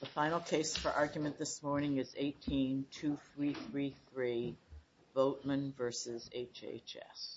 The final case for argument this morning is 18-2333, Boatmon v. HHS. Yes. The case for argument this morning is 18-2333, Boatmon v. HHS.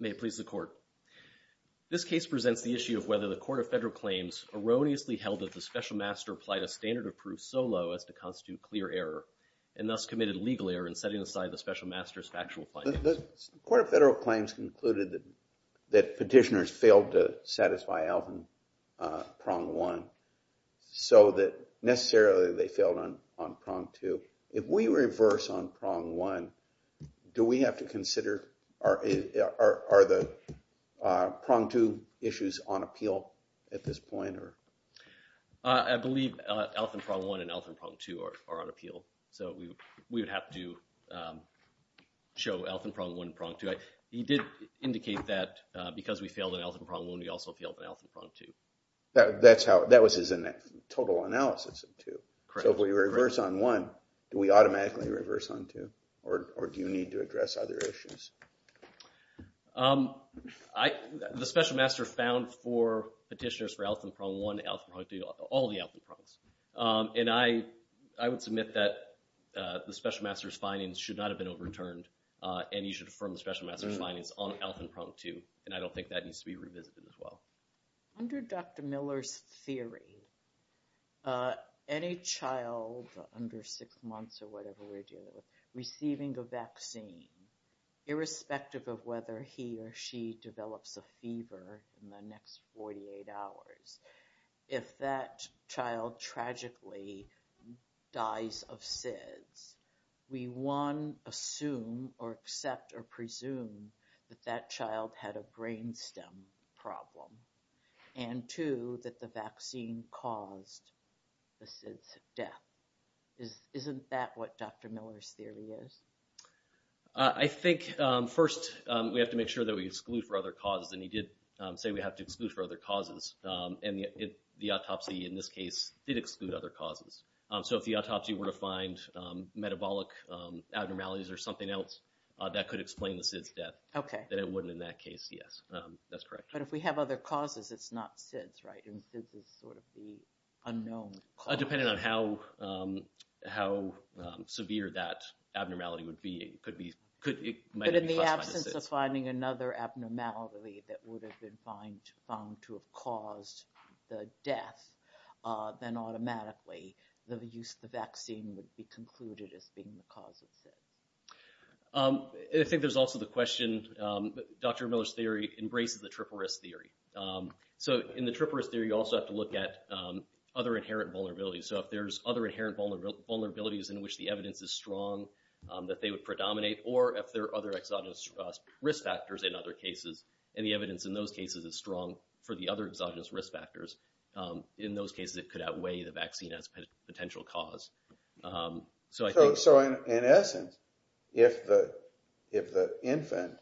May it please the Court. This case presents the issue of whether the Court of Federal Claims erroneously held that the Special Master applied a standard of proof so low as to constitute clear error and thus committed a legal error in setting aside the Special Master's factual findings. The Court of Federal Claims concluded that petitioners failed to satisfy Elfin Prong 1 so that necessarily they failed on Prong 2. If we reverse on Prong 1, do we have to consider, are the Prong 2 issues on appeal at this point? I believe Elfin Prong 1 and Elfin Prong 2 are on appeal. So we would have to show Elfin Prong 1 and Prong 2. He did indicate that because we failed on Elfin Prong 1, we also failed on Elfin Prong 2. That was his total analysis of 2. So if we reverse on 1, do we automatically reverse on 2? Or do you need to address other issues? The Special Master found for petitioners for Elfin Prong 1, Elfin Prong 2, all the Elfin Prongs. And I would submit that the Special Master's findings should not have been overturned. And you should affirm the Special Master's findings on Elfin Prong 2. And I don't think that needs to be revisited as well. Under Dr. Miller's theory, any child under 6 months or whatever we're dealing with, receiving a vaccine, irrespective of whether he or she develops a fever in the next 48 hours, if that child tragically dies of SIDS, we 1, assume or accept or presume that that child had a brain stem problem. And 2, that the vaccine caused the SIDS death. Isn't that what Dr. Miller's theory is? I think, first, we have to make sure that we exclude for other causes. And he did say we have to exclude for other causes. And the autopsy, in this case, did exclude other causes. So if the autopsy were to find metabolic abnormalities or something else that could explain the SIDS death, then it wouldn't in that case, yes. That's correct. But if we have other causes, it's not SIDS, right? And SIDS is sort of the unknown cause. Dependent on how severe that abnormality would be. It might be caused by the SIDS. But in the absence of finding another abnormality that would have been found to have caused the death, then automatically the use of the vaccine would be concluded as being the cause of SIDS. I think there's also the question, Dr. Miller's theory embraces the triple risk theory. So in the triple risk theory, you also have to look at other inherent vulnerabilities. So if there's other inherent vulnerabilities in which the evidence is strong that they would predominate, or if there are other exogenous risk factors in other cases, and the evidence in those cases is strong for the other exogenous risk factors, in those cases it could outweigh the vaccine as a potential cause. So in essence, if the infant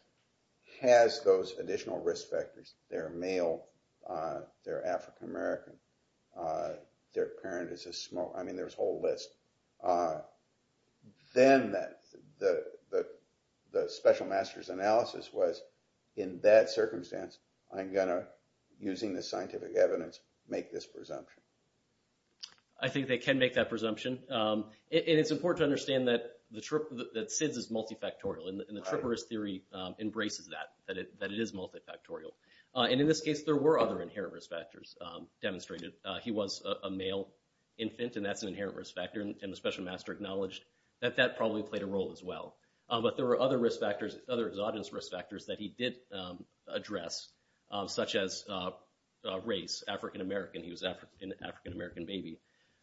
has those additional risk factors, they're male, they're African American, their parent is a smoker, I mean there's a whole list. Then the special master's analysis was, in that circumstance, I'm going to, using the scientific evidence, make this presumption. I think they can make that presumption. And it's important to understand that SIDS is multifactorial, and the triple risk theory embraces that, that it is multifactorial. And in this case, there were other inherent risk factors demonstrated. He was a male infant, and that's an inherent risk factor, and the special master acknowledged that that probably played a role as well. But there were other risk factors, other exogenous risk factors that he did address, such as race, African American, he was an African American baby.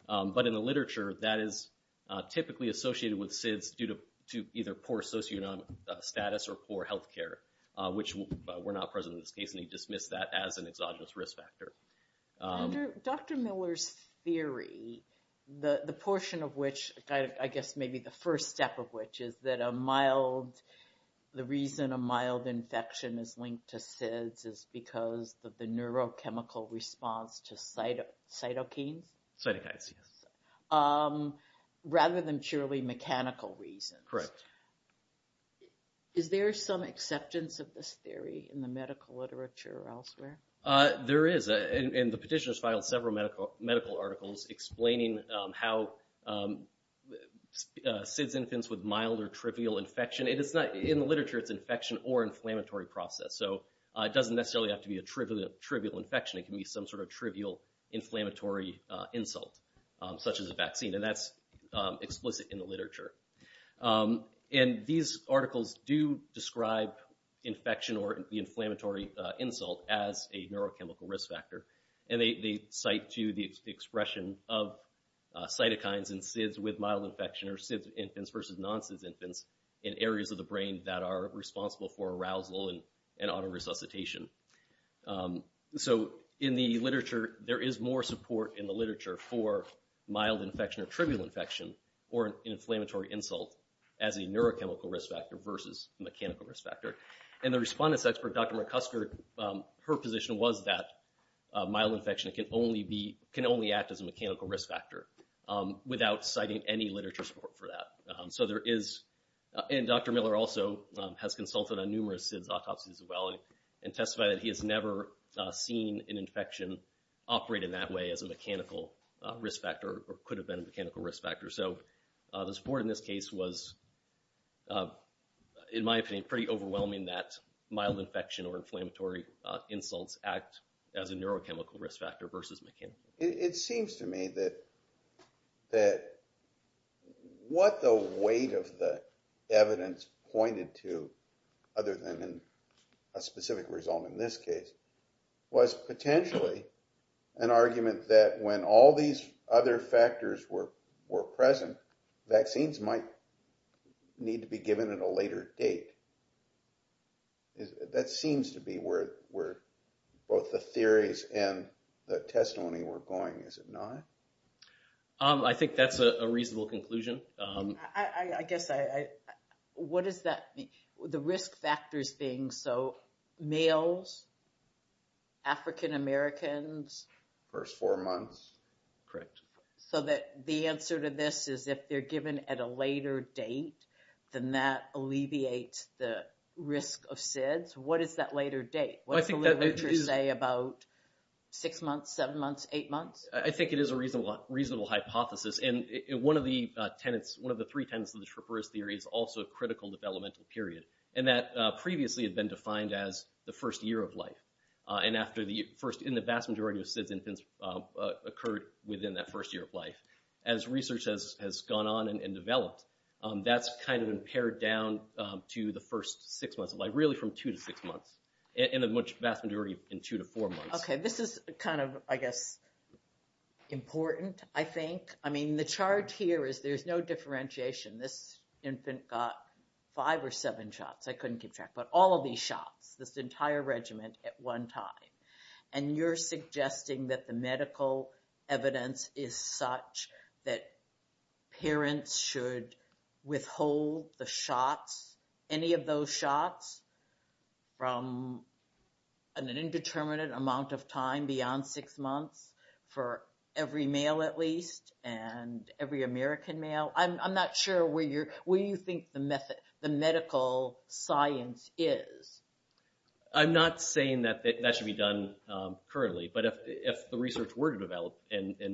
But in the literature, that is typically associated with SIDS due to either poor socioeconomic status or poor health care, which were not present in this case, and he dismissed that as an exogenous risk factor. Dr. Miller's theory, the portion of which, I guess maybe the first step of which, is that a mild, the reason a mild infection is linked to SIDS is because of the neurochemical response to cytokines? Cytokines, yes. Rather than purely mechanical reasons. Correct. Is there some acceptance of this theory in the medical literature or elsewhere? There is, and the petitioners filed several medical articles explaining how SIDS infants with mild or trivial infection, in the literature it's infection or inflammatory process, so it doesn't necessarily have to be a trivial infection, it can be some sort of trivial inflammatory insult, such as a vaccine, and that's explicit in the literature. And these articles do describe infection or the inflammatory insult as a neurochemical risk factor, and they cite to the expression of cytokines in SIDS with mild infection or SIDS infants versus non-SIDS infants in areas of the brain that are responsible for arousal and auto-resuscitation. So in the literature, there is more support in the literature for mild infection or trivial infection or an inflammatory insult as a neurochemical risk factor versus mechanical risk factor. And the respondent's expert, Dr. McCusker, her position was that mild infection can only act as a mechanical risk factor without citing any literature support for that. So there is, and Dr. Miller also has consulted on numerous SIDS autopsies as well and testified that he has never seen an infection operate in that way as a mechanical risk factor or could have been a mechanical risk factor. So the support in this case was, in my opinion, pretty overwhelming that mild infection or inflammatory insults act as a neurochemical risk factor versus mechanical. It seems to me that what the weight of the evidence pointed to, other than a specific result in this case, was potentially an argument that when all these other factors were present, vaccines might need to be given at a later date. That seems to be where both the theories and the testimony were going, is it not? I think that's a reasonable conclusion. I guess I, what does that mean? The risk factors being, so males, African-Americans. First four months. Correct. So that the answer to this is if they're given at a later date, then that alleviates the risk of SIDS. What is that later date? What does the literature say about six months, seven months, eight months? I think it is a reasonable hypothesis. And one of the tenets, one of the three tenets of the Troperous Theory is also a critical developmental period. And that previously had been defined as the first year of life. And after the first, in the vast majority of SIDS infants occurred within that first year of life. As research has gone on and developed, that's kind of impaired down to the first six months of life. Really from two to six months. In a much vast majority, in two to four months. Okay, this is kind of, I guess, important, I think. I mean, the charge here is there's no differentiation. This infant got five or seven shots. I couldn't keep track. But all of these shots, this entire regiment at one time. And you're suggesting that the medical evidence is such that parents should withhold the shots, any of those shots from an indeterminate amount of time beyond six months for every male at least and every American male? I'm not sure where you think the medical science is. I'm not saying that that should be done currently. But if the research were to develop and it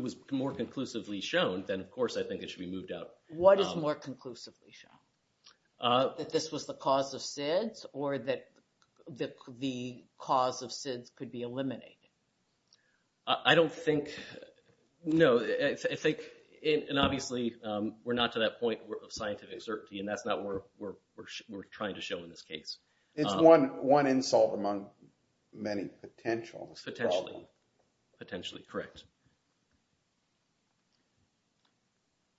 was more conclusively shown, then of course I think it should be moved out. What is more conclusively shown? That this was the cause of SIDS, or that the cause of SIDS could be eliminated? I don't think, no. I think, and obviously we're not to that point of scientific certainty, and that's not what we're trying to show in this case. It's one insult among many potentials. Potentially. Potentially, correct.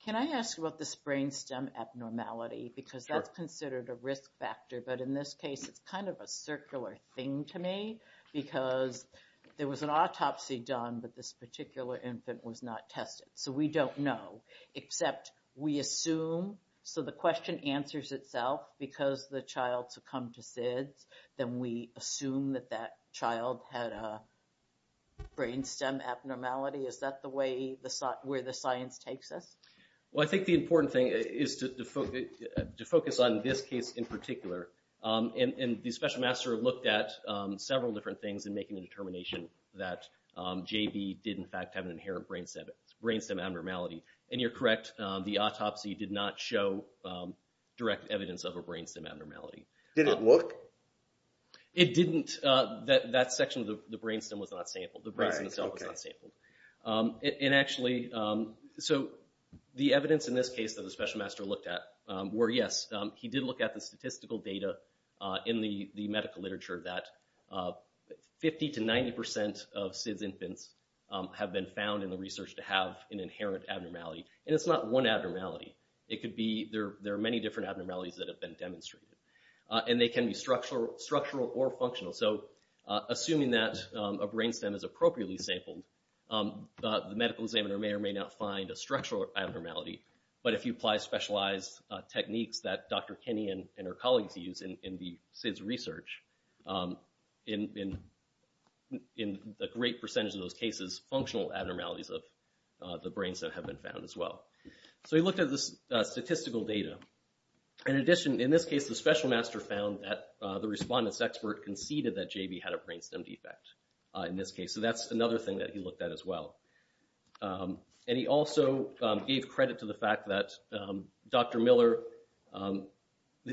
Can I ask about this brainstem abnormality? Sure. Because that's considered a risk factor, but in this case it's kind of a circular thing to me because there was an autopsy done, but this particular infant was not tested. So we don't know, except we assume, so the question answers itself because the child succumbed to SIDS, then we assume that that child had a brainstem abnormality. Is that the way, where the science takes us? Well, I think the important thing is to focus on this case in particular. And the special master looked at several different things in making the determination that JB did in fact have an inherent brainstem abnormality. And you're correct, the autopsy did not show direct evidence of a brainstem abnormality. Did it look? It didn't. That section of the brainstem was not sampled. The brainstem itself was not sampled. And actually, so the evidence in this case that the special master looked at were yes, he did look at the statistical data in the medical literature that 50 to 90% of SIDS infants have been found in the research to have an inherent abnormality. And it's not one abnormality. It could be there are many different abnormalities that have been demonstrated. And they can be structural or functional. So assuming that a brainstem is appropriately sampled, the medical examiner may or may not find a structural abnormality. But if you apply specialized techniques that Dr. Kinney and her colleagues use in the SIDS research, in a great percentage of those cases, functional abnormalities of the brainstem have been found as well. So he looked at the statistical data. In addition, in this case, the special master found that the respondent's expert conceded that JB had a brainstem defect in this case. So that's another thing that he looked at as well. And he also gave credit to the fact that Dr. Miller,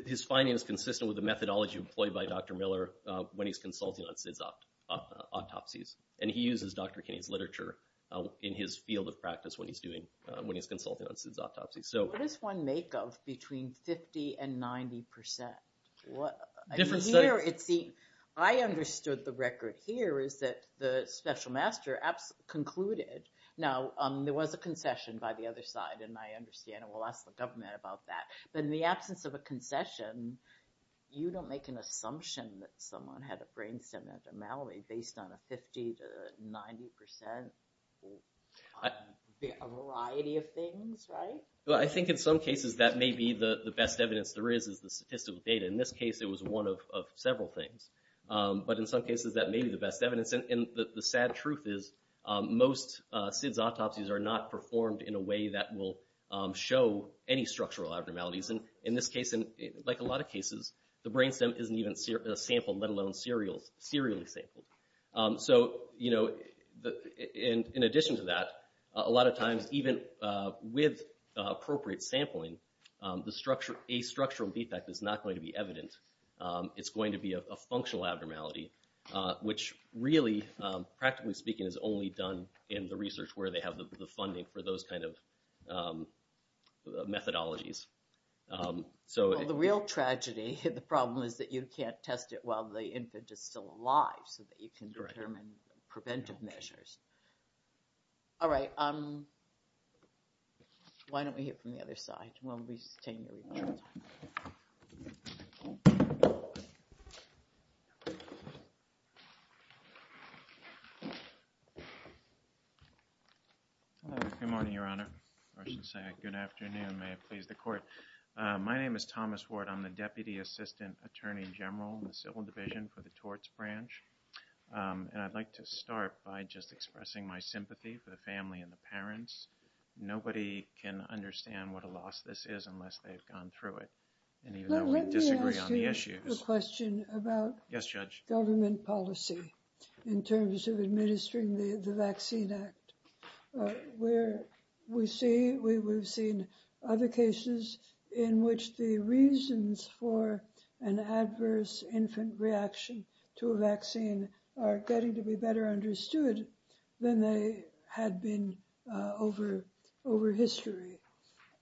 his finding is consistent with the methodology employed by Dr. Miller when he's consulting on SIDS autopsies. And he uses Dr. Kinney's literature in his field of practice when he's doing, when he's consulting on SIDS autopsies. What does one make of between 50% and 90%? Different studies. I understood the record here is that the special master concluded. Now, there was a concession by the other side. And I understand it. We'll ask the government about that. But in the absence of a concession, you don't make an assumption that someone had a brainstem abnormality based on a 50% to 90% variety of things, right? Well, I think in some cases that may be the best evidence there is, is the statistical data. In this case, it was one of several things. But in some cases, that may be the best evidence. And the sad truth is most SIDS autopsies are not performed in a way that will show any structural abnormalities. And in this case, and like a lot of cases, the brainstem isn't even a sample, let alone serially sampled. So, you know, in addition to that, a lot of times, even with appropriate sampling, a structural defect is not going to be evident. It's going to be a functional abnormality, which really, practically speaking, is only done in the research where they have the funding for those kind of methodologies. So the real tragedy, the problem is that you can't test it while the infant is still alive so that you can determine preventive measures. All right. Why don't we hear from the other side? Good morning, Your Honor. Good afternoon. May it please the Court. My name is Thomas Ward. I'm the Deputy Assistant Attorney General in the Civil Division for the Torts Branch. And I'd like to start by just expressing my sympathy for the family and the parents. Nobody can understand what a loss this is unless they've gone through it. And even though we disagree on the issues. Let me ask you a question about government policy in terms of administering the Vaccine Act. Where we see, we've seen other cases in which the reasons for an adverse infant reaction to a vaccine are getting to be better understood than they had been over history.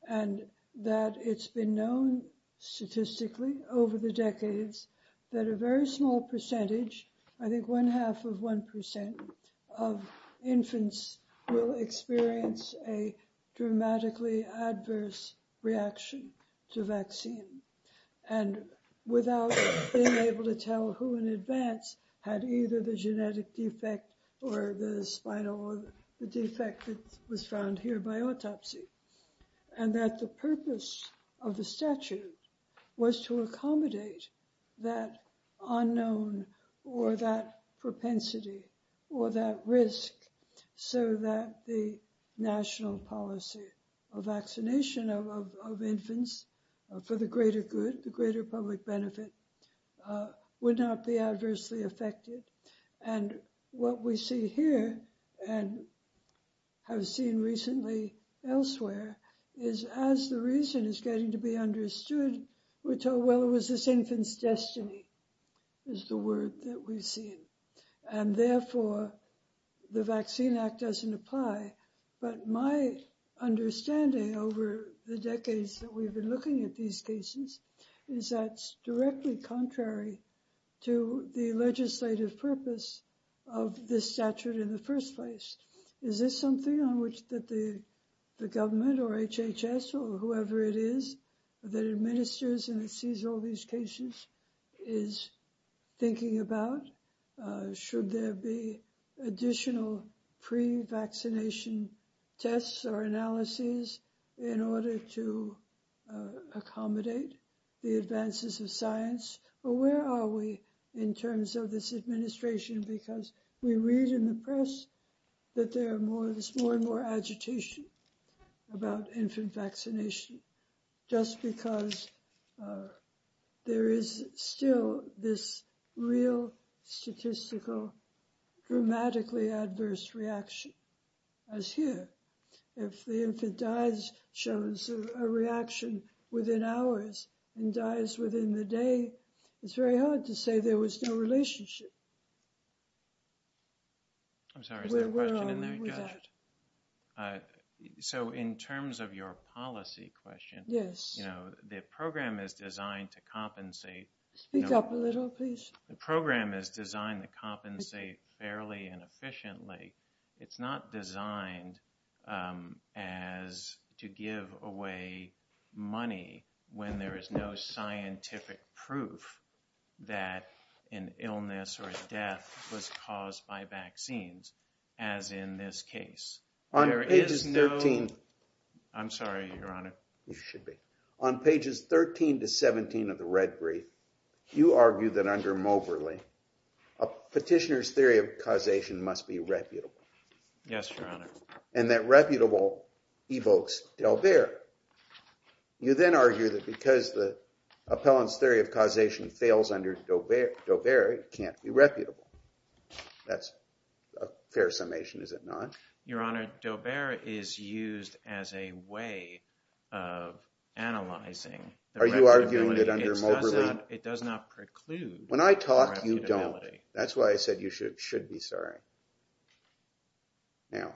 And that it's been known statistically over the decades that a very small percentage, I think one half of 1% of infants will experience a dramatically adverse reaction to vaccine. And without being able to tell who in advance had either the genetic defect or the spinal or the defect that was found here by autopsy. And that the purpose of the statute was to accommodate that unknown or that propensity or that risk so that the national policy of vaccination of infants for the greater good, the greater public benefit would not be adversely affected. And what we see here and have seen recently elsewhere is as the reason is getting to be understood, we're told, well, it was this infant's destiny is the word that we've seen. And therefore, the Vaccine Act doesn't apply. But my understanding over the decades that we've been looking at these cases is that's directly contrary to the legislative purpose of the statute in the first place. Is this something on which the government or HHS or whoever it is that administers and sees all these cases is thinking about? Should there be additional pre-vaccination tests or analyses in order to accommodate the advances of science? Or where are we in terms of this administration? Because we read in the press that there are more and more agitation about infant vaccination just because there is still this real statistical, dramatically adverse reaction as here. If the infant dies, shows a reaction within hours and dies within the day, it's very hard to say there was no relationship. I'm sorry, is there a question in there? So in terms of your policy question, you know, the program is designed to compensate. Speak up a little, please. The program is designed to compensate fairly and efficiently. It's not designed to give away money when there is no scientific proof that an illness or death was caused by vaccines, as in this case. On pages 13. I'm sorry, Your Honor. On pages 13 to 17 of the red brief, you argue that under Moberly, a petitioner's theory of causation must be reputable. Yes, Your Honor. And that reputable evokes Daubert. You then argue that because the appellant's theory of causation fails under Daubert, it can't be reputable. That's a fair summation, is it not? Your Honor, Daubert is used as a way of analyzing. Are you arguing that under Moberly? It does not preclude reputability. When I talk, you don't. That's why I said you should be sorry. Now,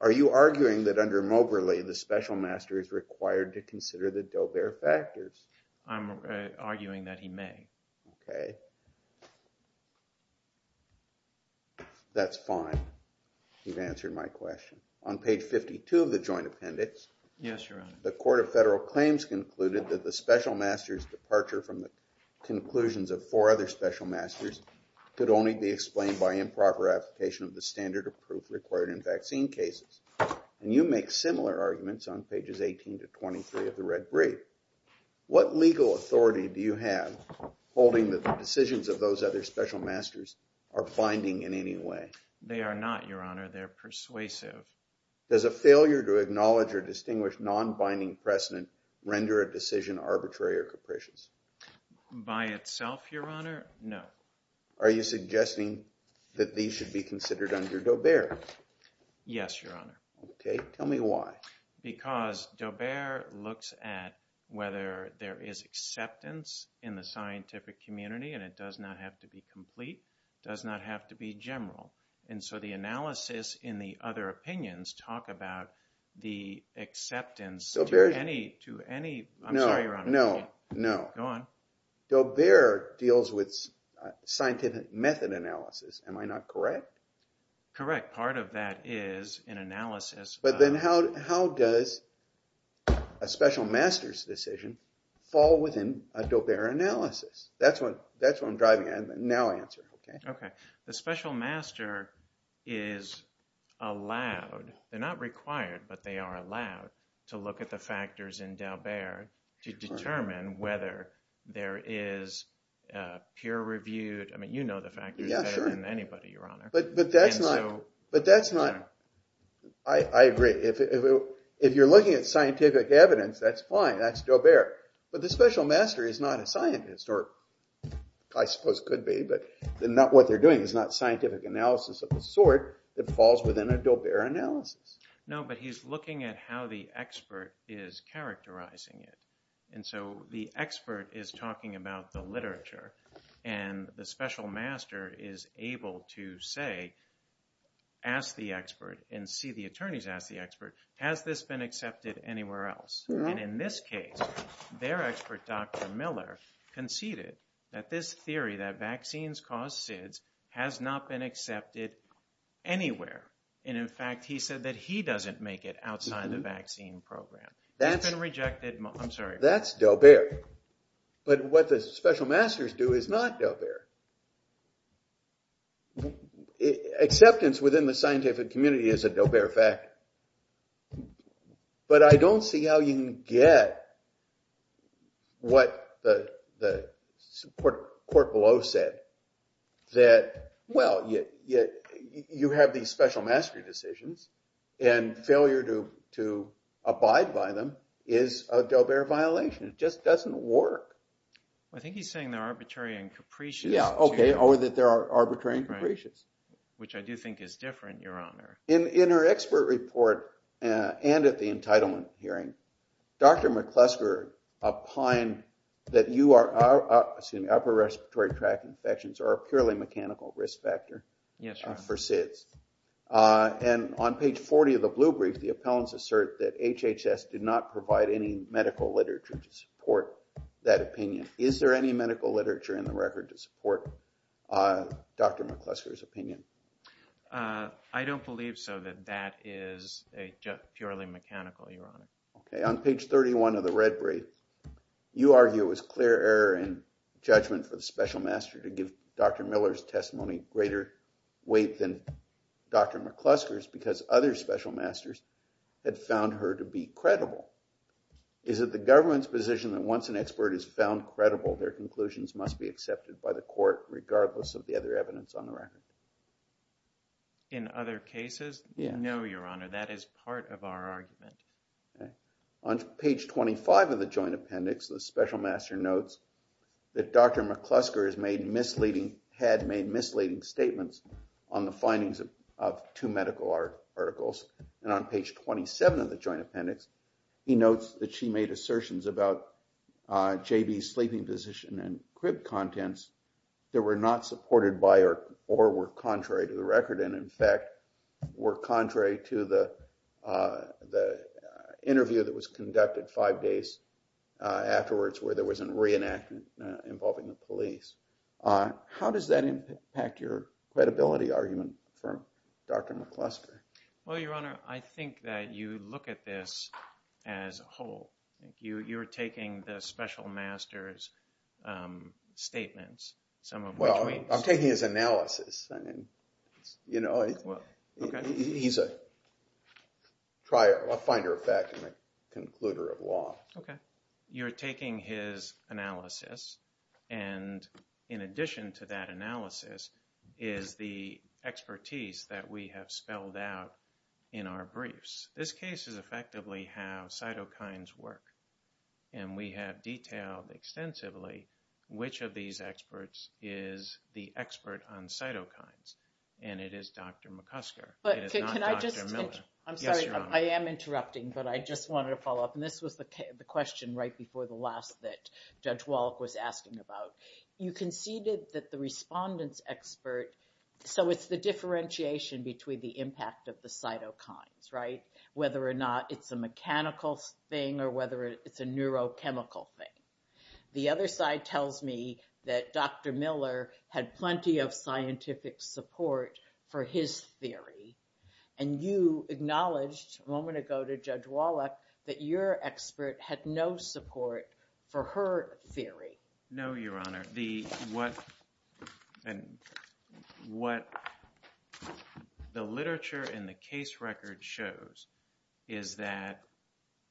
are you arguing that under Moberly, the special master is required to consider the Daubert factors? I'm arguing that he may. Okay. That's fine. You've answered my question. On page 52 of the joint appendix. Yes, Your Honor. The Court of Federal Claims concluded that the special master's departure from the conclusions of four other special masters could only be explained by improper application of the standard of proof required in vaccine cases. And you make similar arguments on pages 18 to 23 of the red brief. What legal authority do you have holding that the decisions of those other special masters are binding in any way? They are not, Your Honor. They're persuasive. Does a failure to acknowledge or distinguish non-binding precedent render a decision arbitrary or capricious? By itself, Your Honor, no. Are you suggesting that these should be considered under Daubert? Yes, Your Honor. Okay. Tell me why. Because Daubert looks at whether there is acceptance in the scientific community. And it does not have to be complete. It does not have to be general. And so the analysis in the other opinions talk about the acceptance to any... I'm sorry, Your Honor. No, no. Go on. Daubert deals with scientific method analysis. Am I not correct? Correct. Part of that is an analysis... But then how does a special master's decision fall within a Daubert analysis? That's what I'm driving at. Now answer. Okay. The special master is allowed... They're not required, but they are allowed to look at the factors in Daubert to determine whether there is peer-reviewed... I mean, you know the factors better than anybody, Your Honor. But that's not... I agree. If you're looking at scientific evidence, that's fine. That's Daubert. But the special master is not a scientist, or I suppose could be. But what they're doing is not scientific analysis of the sort that falls within a Daubert analysis. No, but he's looking at how the expert is characterizing it. And the special master is able to say, ask the expert, and see the attorneys ask the expert, has this been accepted anywhere else? And in this case, their expert, Dr. Miller, conceded that this theory that vaccines cause SIDS has not been accepted anywhere. And in fact, he said that he doesn't make it outside the vaccine program. He's been rejected... I'm sorry. That's Daubert. But what the special masters do is not Daubert. Acceptance within the scientific community is a Daubert factor. But I don't see how you can get what the court below said that, well, you have these special mastery decisions, and failure to abide by them is a Daubert violation. It just doesn't work. I think he's saying they're arbitrary and capricious. Yeah, okay, or that they are arbitrary and capricious. Which I do think is different, Your Honor. In her expert report, and at the entitlement hearing, Dr. McClusker opined that upper respiratory tract infections are a purely mechanical risk factor for SIDS. And on page 40 of the blue brief, the appellants assert that HHS did not provide any medical literature to support that opinion. Is there any medical literature in the record to support Dr. McClusker's opinion? I don't believe so, that that is a purely mechanical, Your Honor. Okay, on page 31 of the red brief, you argue it was clear error in judgment for the special master to give Dr. Miller's testimony greater weight than Dr. McClusker's because other special masters had found her to be credible. Is it the government's position that once an expert is found credible, their conclusions must be accepted by the court regardless of the other evidence on the record? In other cases? No, Your Honor, that is part of our argument. On page 25 of the joint appendix, the special master notes that Dr. McClusker had made misleading statements on the findings of two medical articles. And on page 27 of the joint appendix, he notes that she made assertions about JB's sleeping position and crib contents that were not supported by or were contrary to the record. And in fact, were contrary to the interview that was conducted five days afterwards where there was a reenactment involving the police. How does that impact your credibility argument for Dr. McClusker? Well, Your Honor, I think that you look at this as a whole. You're taking the special master's statements. Well, I'm taking his analysis. He's a finder of fact and a concluder of law. You're taking his analysis, and in addition to that analysis is the expertise that we have spelled out in our briefs. This case is effectively how cytokines work, and we have detailed extensively which of these experts is the expert on cytokines, and it is Dr. McClusker. It is not Dr. Miller. Yes, Your Honor. I'm sorry. I am interrupting, but I just wanted to follow up, and this was the question right before the last that Judge Wallach was asking about. You conceded that the respondent's expert, so it's the differentiation between the impact of the cytokines, right, whether or not it's a mechanical thing or whether it's a neurochemical thing. The other side tells me that Dr. Miller had plenty of scientific support for his theory, and you acknowledged a moment ago to Judge Wallach that your expert had no support for her theory. No, Your Honor. What the literature in the case record shows is that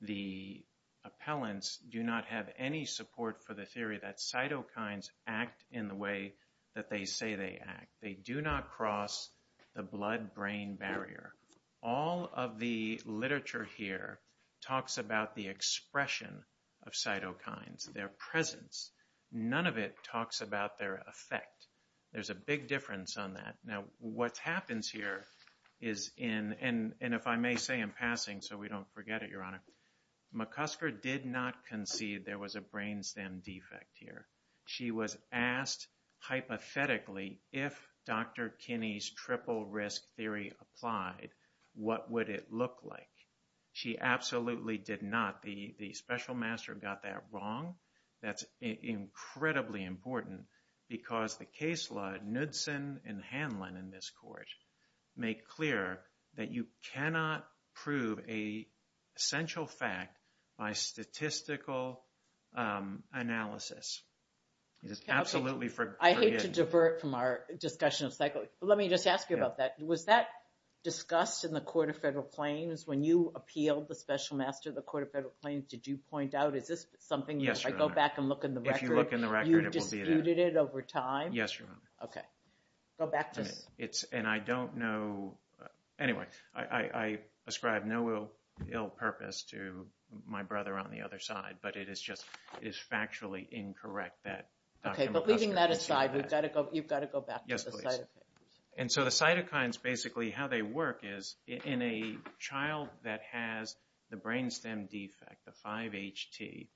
the appellants do not have any support for the theory that cytokines act in the way that they say they act. They do not cross the blood-brain barrier. All of the literature here talks about the expression of cytokines, their presence. None of it talks about their effect. There's a big difference on that. Now, what happens here is, and if I may say in passing so we don't forget it, Your Honor, McCusker did not concede there was a brain stem defect here. She was asked hypothetically, if Dr. Kinney's triple risk theory applied, what would it look like? She absolutely did not. The special master got that wrong. That's incredibly important because the case law Knudson and Hanlon in this court make clear that you cannot prove a central fact by statistical analysis. I hate to divert from our discussion of psychology, but let me just ask you about that. Was that discussed in the Court of Federal Claims when you appealed the special master of the Court of Federal Claims? Did you point out, is this something that if I go back and look in the record, you disputed it over time? Yes, Your Honor. And I don't know. Anyway, I ascribe no ill purpose to my brother on the other side, but it is factually incorrect that Dr. McCusker conceded that. Yes, please. And so the cytokines, basically how they work is in a child that has the brain stem defect, the 5HT,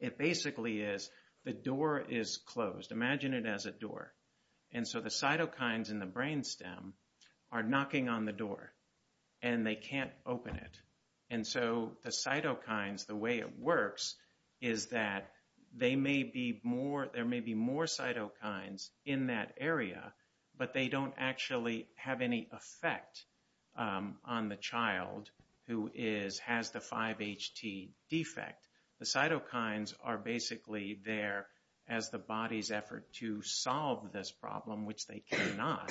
it basically is the door is closed. Imagine it as a door. And so the cytokines in the brain stem are knocking on the door and they can't open it. And so the cytokines, the way it works is that there may be more cytokines in that area, but they don't actually have any effect on the child who has the 5HT defect. The cytokines are basically there as the body's effort to solve this problem, which they cannot.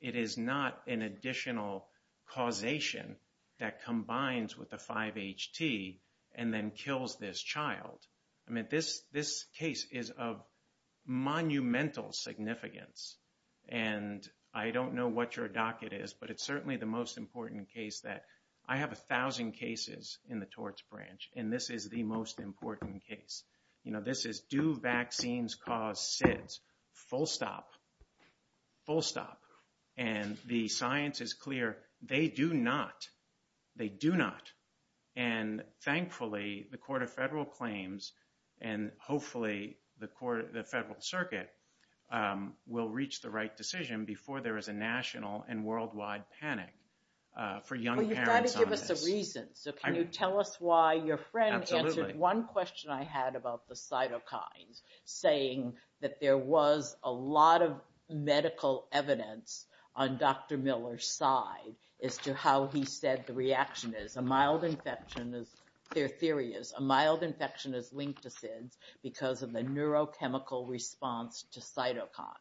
It is not an additional causation that combines with the 5HT and then kills this child. I mean, this case is of monumental significance. And I don't know what your docket is, but it's certainly the most important case that I have a thousand cases in the torts branch, and this is the most important case. You know, this is, do vaccines cause SIDS? Full stop. Full stop. And the science is clear. They do not. They do not. And thankfully, the Court of Federal Claims and hopefully the Federal Circuit will reach the right decision before there is a national and worldwide panic for young parents on this. So can you tell us why your friend answered one question I had about the cytokines, saying that there was a lot of medical evidence on Dr. Miller's side as to how he said the reaction is. Their theory is a mild infection is linked to SIDS because of the neurochemical response to cytokines.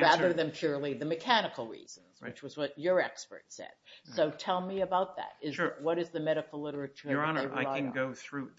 Rather than purely the mechanical reasons, which was what your expert said. So tell me about that. What is the medical literature? Your Honor, I can go through.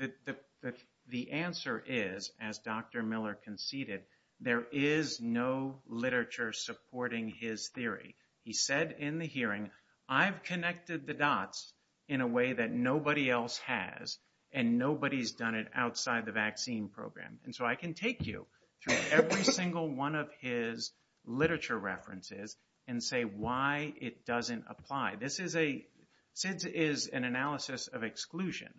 The answer is, as Dr. Miller conceded, there is no literature supporting his theory. He said in the hearing, I've connected the dots in a way that nobody else has, and nobody's done it outside the vaccine program. And so I can take you through every single one of his literature references and say why it doesn't apply. This is a, SIDS is an analysis of exclusion.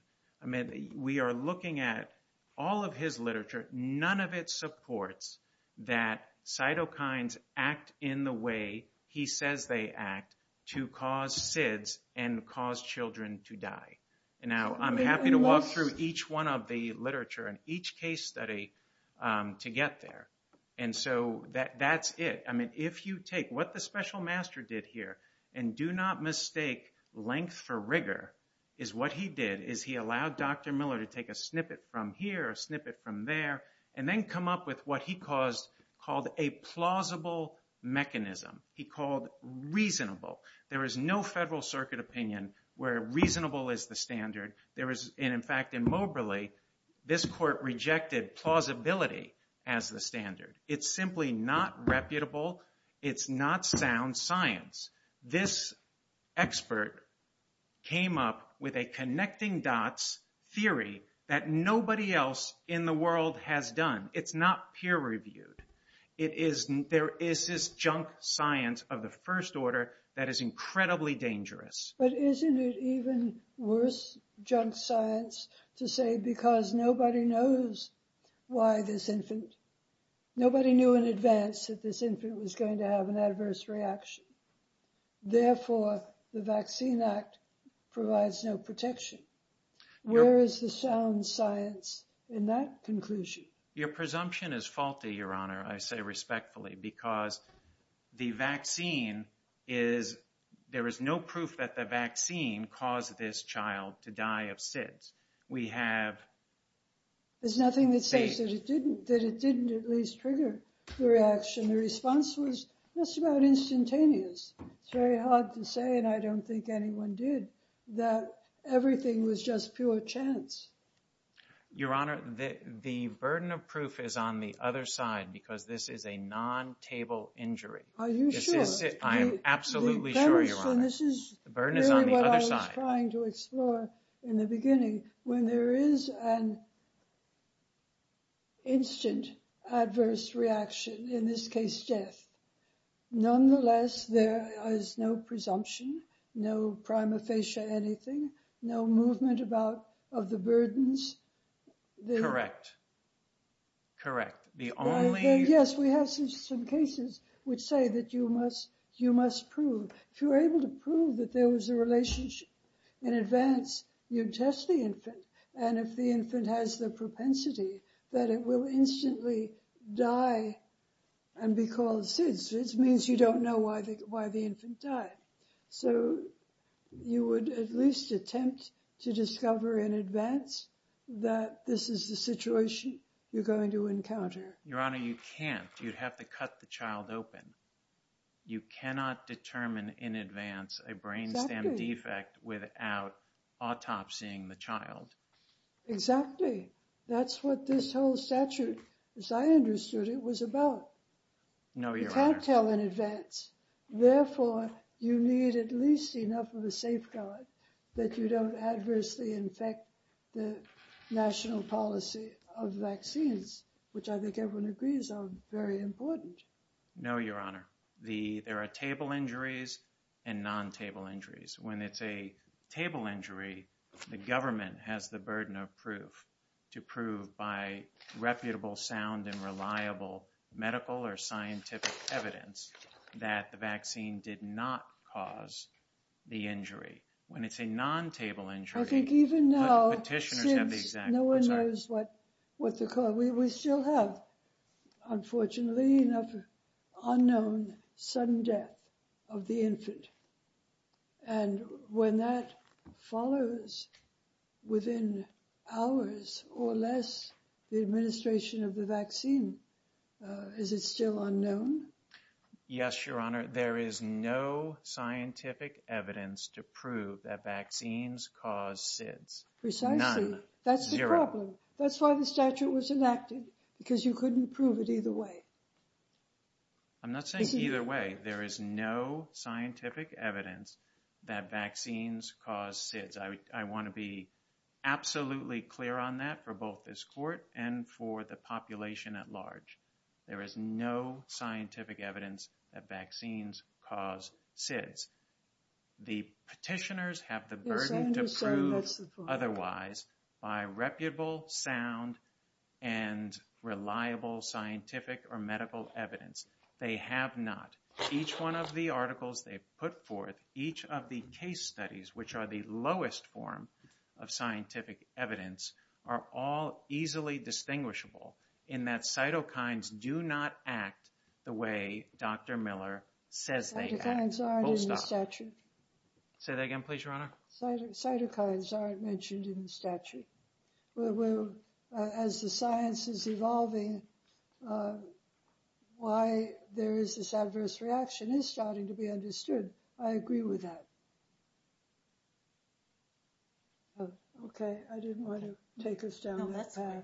I mean, we are looking at all of his literature. None of it supports that cytokines act in the way he says they act to cause SIDS and cause children to die. And now I'm happy to walk through each one of the literature and each case study to get there. And so that's it. I mean, if you take what the special master did here, and do not mistake length for rigor, is what he did is he allowed Dr. Miller to take a snippet from here, a snippet from there, and then come up with what he called a plausible mechanism. He called reasonable. There is no federal circuit opinion where reasonable is the standard. And in fact, in Moberly, this court rejected plausibility as the standard. It's simply not reputable. It's not sound science. This expert came up with a connecting dots theory that nobody else in the world has done. It's not peer reviewed. It is, there is this junk science of the first order that is incredibly dangerous. But isn't it even worse junk science to say because nobody knows why this infant, nobody knew in advance that this infant was going to have an adverse reaction. Therefore, the Vaccine Act provides no protection. Where is the sound science in that conclusion? Your presumption is faulty, Your Honor, I say respectfully, because the vaccine is, there is no proof that the vaccine caused this child to die of SIDS. We have... There's nothing that says that it didn't, that it didn't at least trigger the reaction. The response was just about instantaneous. It's very hard to say, and I don't think anyone did, that everything was just pure chance. Your Honor, the burden of proof is on the other side, because this is a non-table injury. Are you sure? I am absolutely sure, Your Honor. This is really what I was trying to explore in the beginning. When there is an instant adverse reaction, in this case, death, nonetheless, there is no presumption, no prima facie anything, no movement about, of the burdens. Correct. Correct. The only... would say that you must, you must prove, if you're able to prove that there was a relationship in advance, you'd test the infant, and if the infant has the propensity that it will instantly die and be called SIDS, it means you don't know why the infant died. So, you would at least attempt to discover in advance that this is the situation you're going to encounter. Your Honor, you can't. You'd have to cut the child open. You cannot determine in advance a brainstem defect without autopsying the child. Exactly. That's what this whole statute, as I understood it, was about. No, Your Honor. You can't tell in advance. Therefore, you need at least enough of a safeguard that you don't adversely infect the national policy of vaccines, which I think everyone agrees are very important. No, Your Honor. There are table injuries and non-table injuries. When it's a table injury, the government has the burden of proof to prove by reputable, sound, and reliable medical or scientific evidence that the vaccine did not cause the injury. When it's a non-table injury, the petitioners have the exact result. I think even now, since no one knows what the cause is, we still have, unfortunately, an unknown sudden death of the infant. And when that follows, within hours or less, the administration of the vaccine, is it still unknown? Yes, Your Honor. There is no scientific evidence to prove that vaccines cause SIDS. None. Zero. Precisely. That's the problem. That's why the statute was enacted. Because you couldn't prove it either way. I'm not saying either way. There is no scientific evidence that vaccines cause SIDS. I want to be absolutely clear on that for both this court and for the population at large. There is no scientific evidence that vaccines cause SIDS. The petitioners have the burden to prove otherwise by reputable, sound, and reliable scientific or medical evidence. They have not. Each one of the articles they put forth, each of the case studies, which are the lowest form of scientific evidence, are all easily distinguishable in that cytokines do not act the way Dr. Miller says they act. Cytokines aren't in the statute. Say that again, please, Your Honor. Cytokines aren't mentioned in the statute. As the science is evolving, why there is this adverse reaction is starting to be understood. I agree with that. Okay. I didn't want to take us down that path.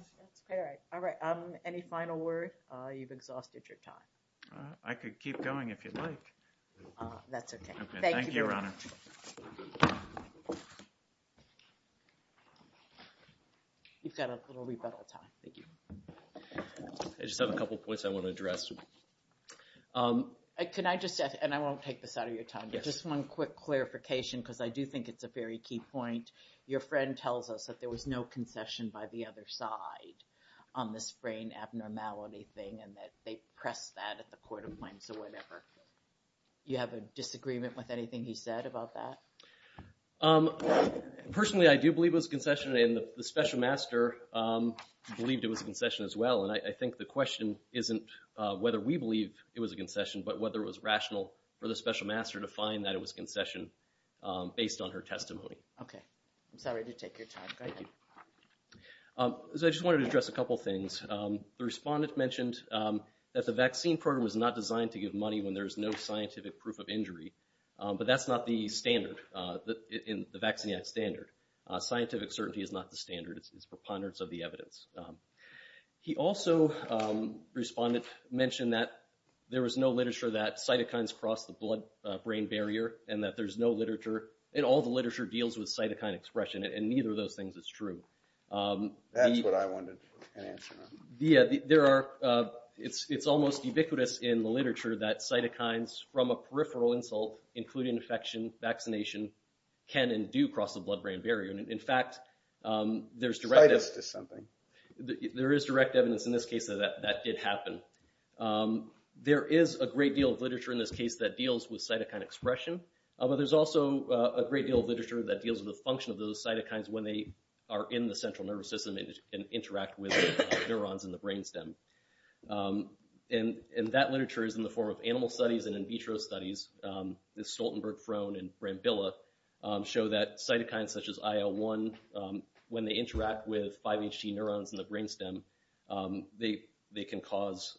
All right. Any final word? You've exhausted your time. I could keep going if you'd like. That's okay. Thank you. Thank you, Your Honor. You've got a little rebuttal time. I just have a couple points I want to address. Can I just add, and I won't take this out of your time, but just one quick clarification because I do think it's a very key point. Your friend tells us that there was no concession by the other side on this brain abnormality thing and that they pressed that at the court of claims or whatever. Do you have a disagreement with anything he said about that? Personally, I do believe it was a concession, and the special master believed it was a concession as well. I think the question isn't whether we believe it was a concession, but whether it was rational for the special master to find that it was a concession based on her testimony. Okay. I'm sorry to take your time. Go ahead. I just wanted to address a couple things. The respondent mentioned that the vaccine program is not designed to give money when there's no scientific proof of injury, but that's not the standard in the Vaccine Act standard. Scientific certainty is not the standard. It's preponderance of the evidence. He also, respondent, mentioned that there was no literature that cytokines cross the blood-brain barrier and that there's no literature, and all the literature deals with cytokine expression, and neither of those things is true. That's what I wanted an answer on. It's almost ubiquitous in the literature that cytokines from a peripheral insult, including infection, vaccination, can and do cross the blood-brain barrier. In fact, there's direct evidence in this case that that did happen. There is a great deal of literature in this case that deals with cytokine expression, but there's also a great deal of literature that deals with the function of those cytokines when they are in the central nervous system and interact with neurons in the brainstem. And that literature is in the form of animal studies and in vitro studies. Stoltenberg, Frone, and Brambilla show that cytokines such as IL-1, when they interact with 5HG neurons in the brainstem, they can cause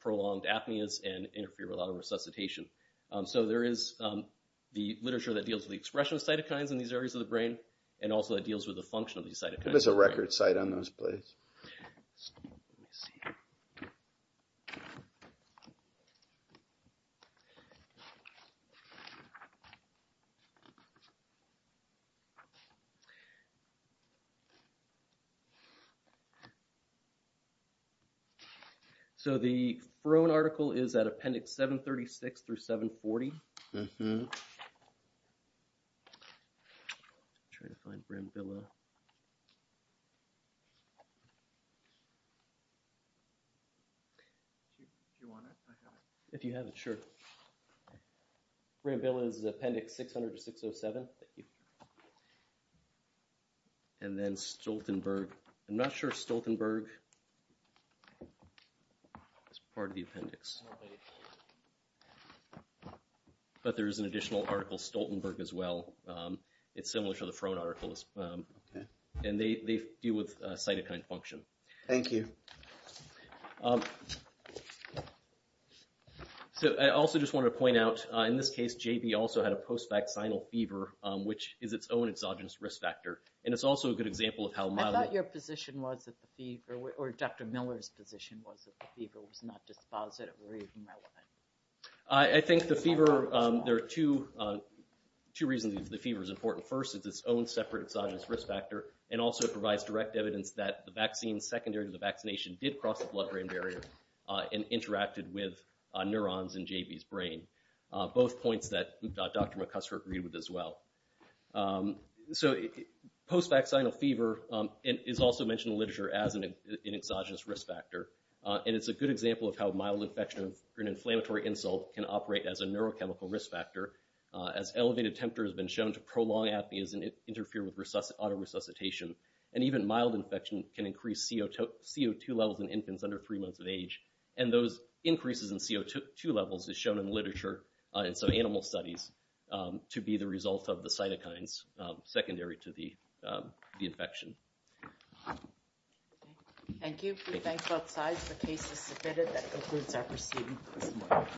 prolonged apneas and interferolateral resuscitation. So there is the literature that deals with the expression of cytokines in these areas of the brain, and also that deals with the function of these cytokines. There's a record site on those plays. So the Frone article is at appendix 736 through 740. If you want it, I have it. If you have it, sure. Brambilla is appendix 600 to 607. And then Stoltenberg. I'm not sure Stoltenberg is part of the appendix. But there is an additional article Stoltenberg as well. It's similar to the Frone article. And they deal with cytokine function. Thank you. So I also just want to point out, in this case, JB also had a post-vaccinal fever, which is its own exogenous risk factor. And it's also a good example of how mild it is. I thought your position was that the fever, or Dr. Miller's position was that the fever was not dispositive or even relevant. I think the fever, there are two reasons the fever is important. First, it's its own separate exogenous risk factor and also provides direct evidence that the vaccine, secondary to the vaccination, did cross the blood-brain barrier and interacted with neurons in JB's brain. Both points that Dr. McCusker agreed with as well. So post-vaccinal fever is also mentioned in literature as an exogenous risk factor. And it's a good example of how mild infection or an inflammatory insult can operate as a neurochemical risk factor. As elevated temperature has been shown to prolong apneas and interfere with auto-resuscitation. And even mild infection can increase CO2 levels in infants under three months of age. And those increases in CO2 levels is shown in literature, in some animal studies, to be the result of the cytokines secondary to the infection. Thank you. We thank both sides. The case is submitted. That concludes our proceedings.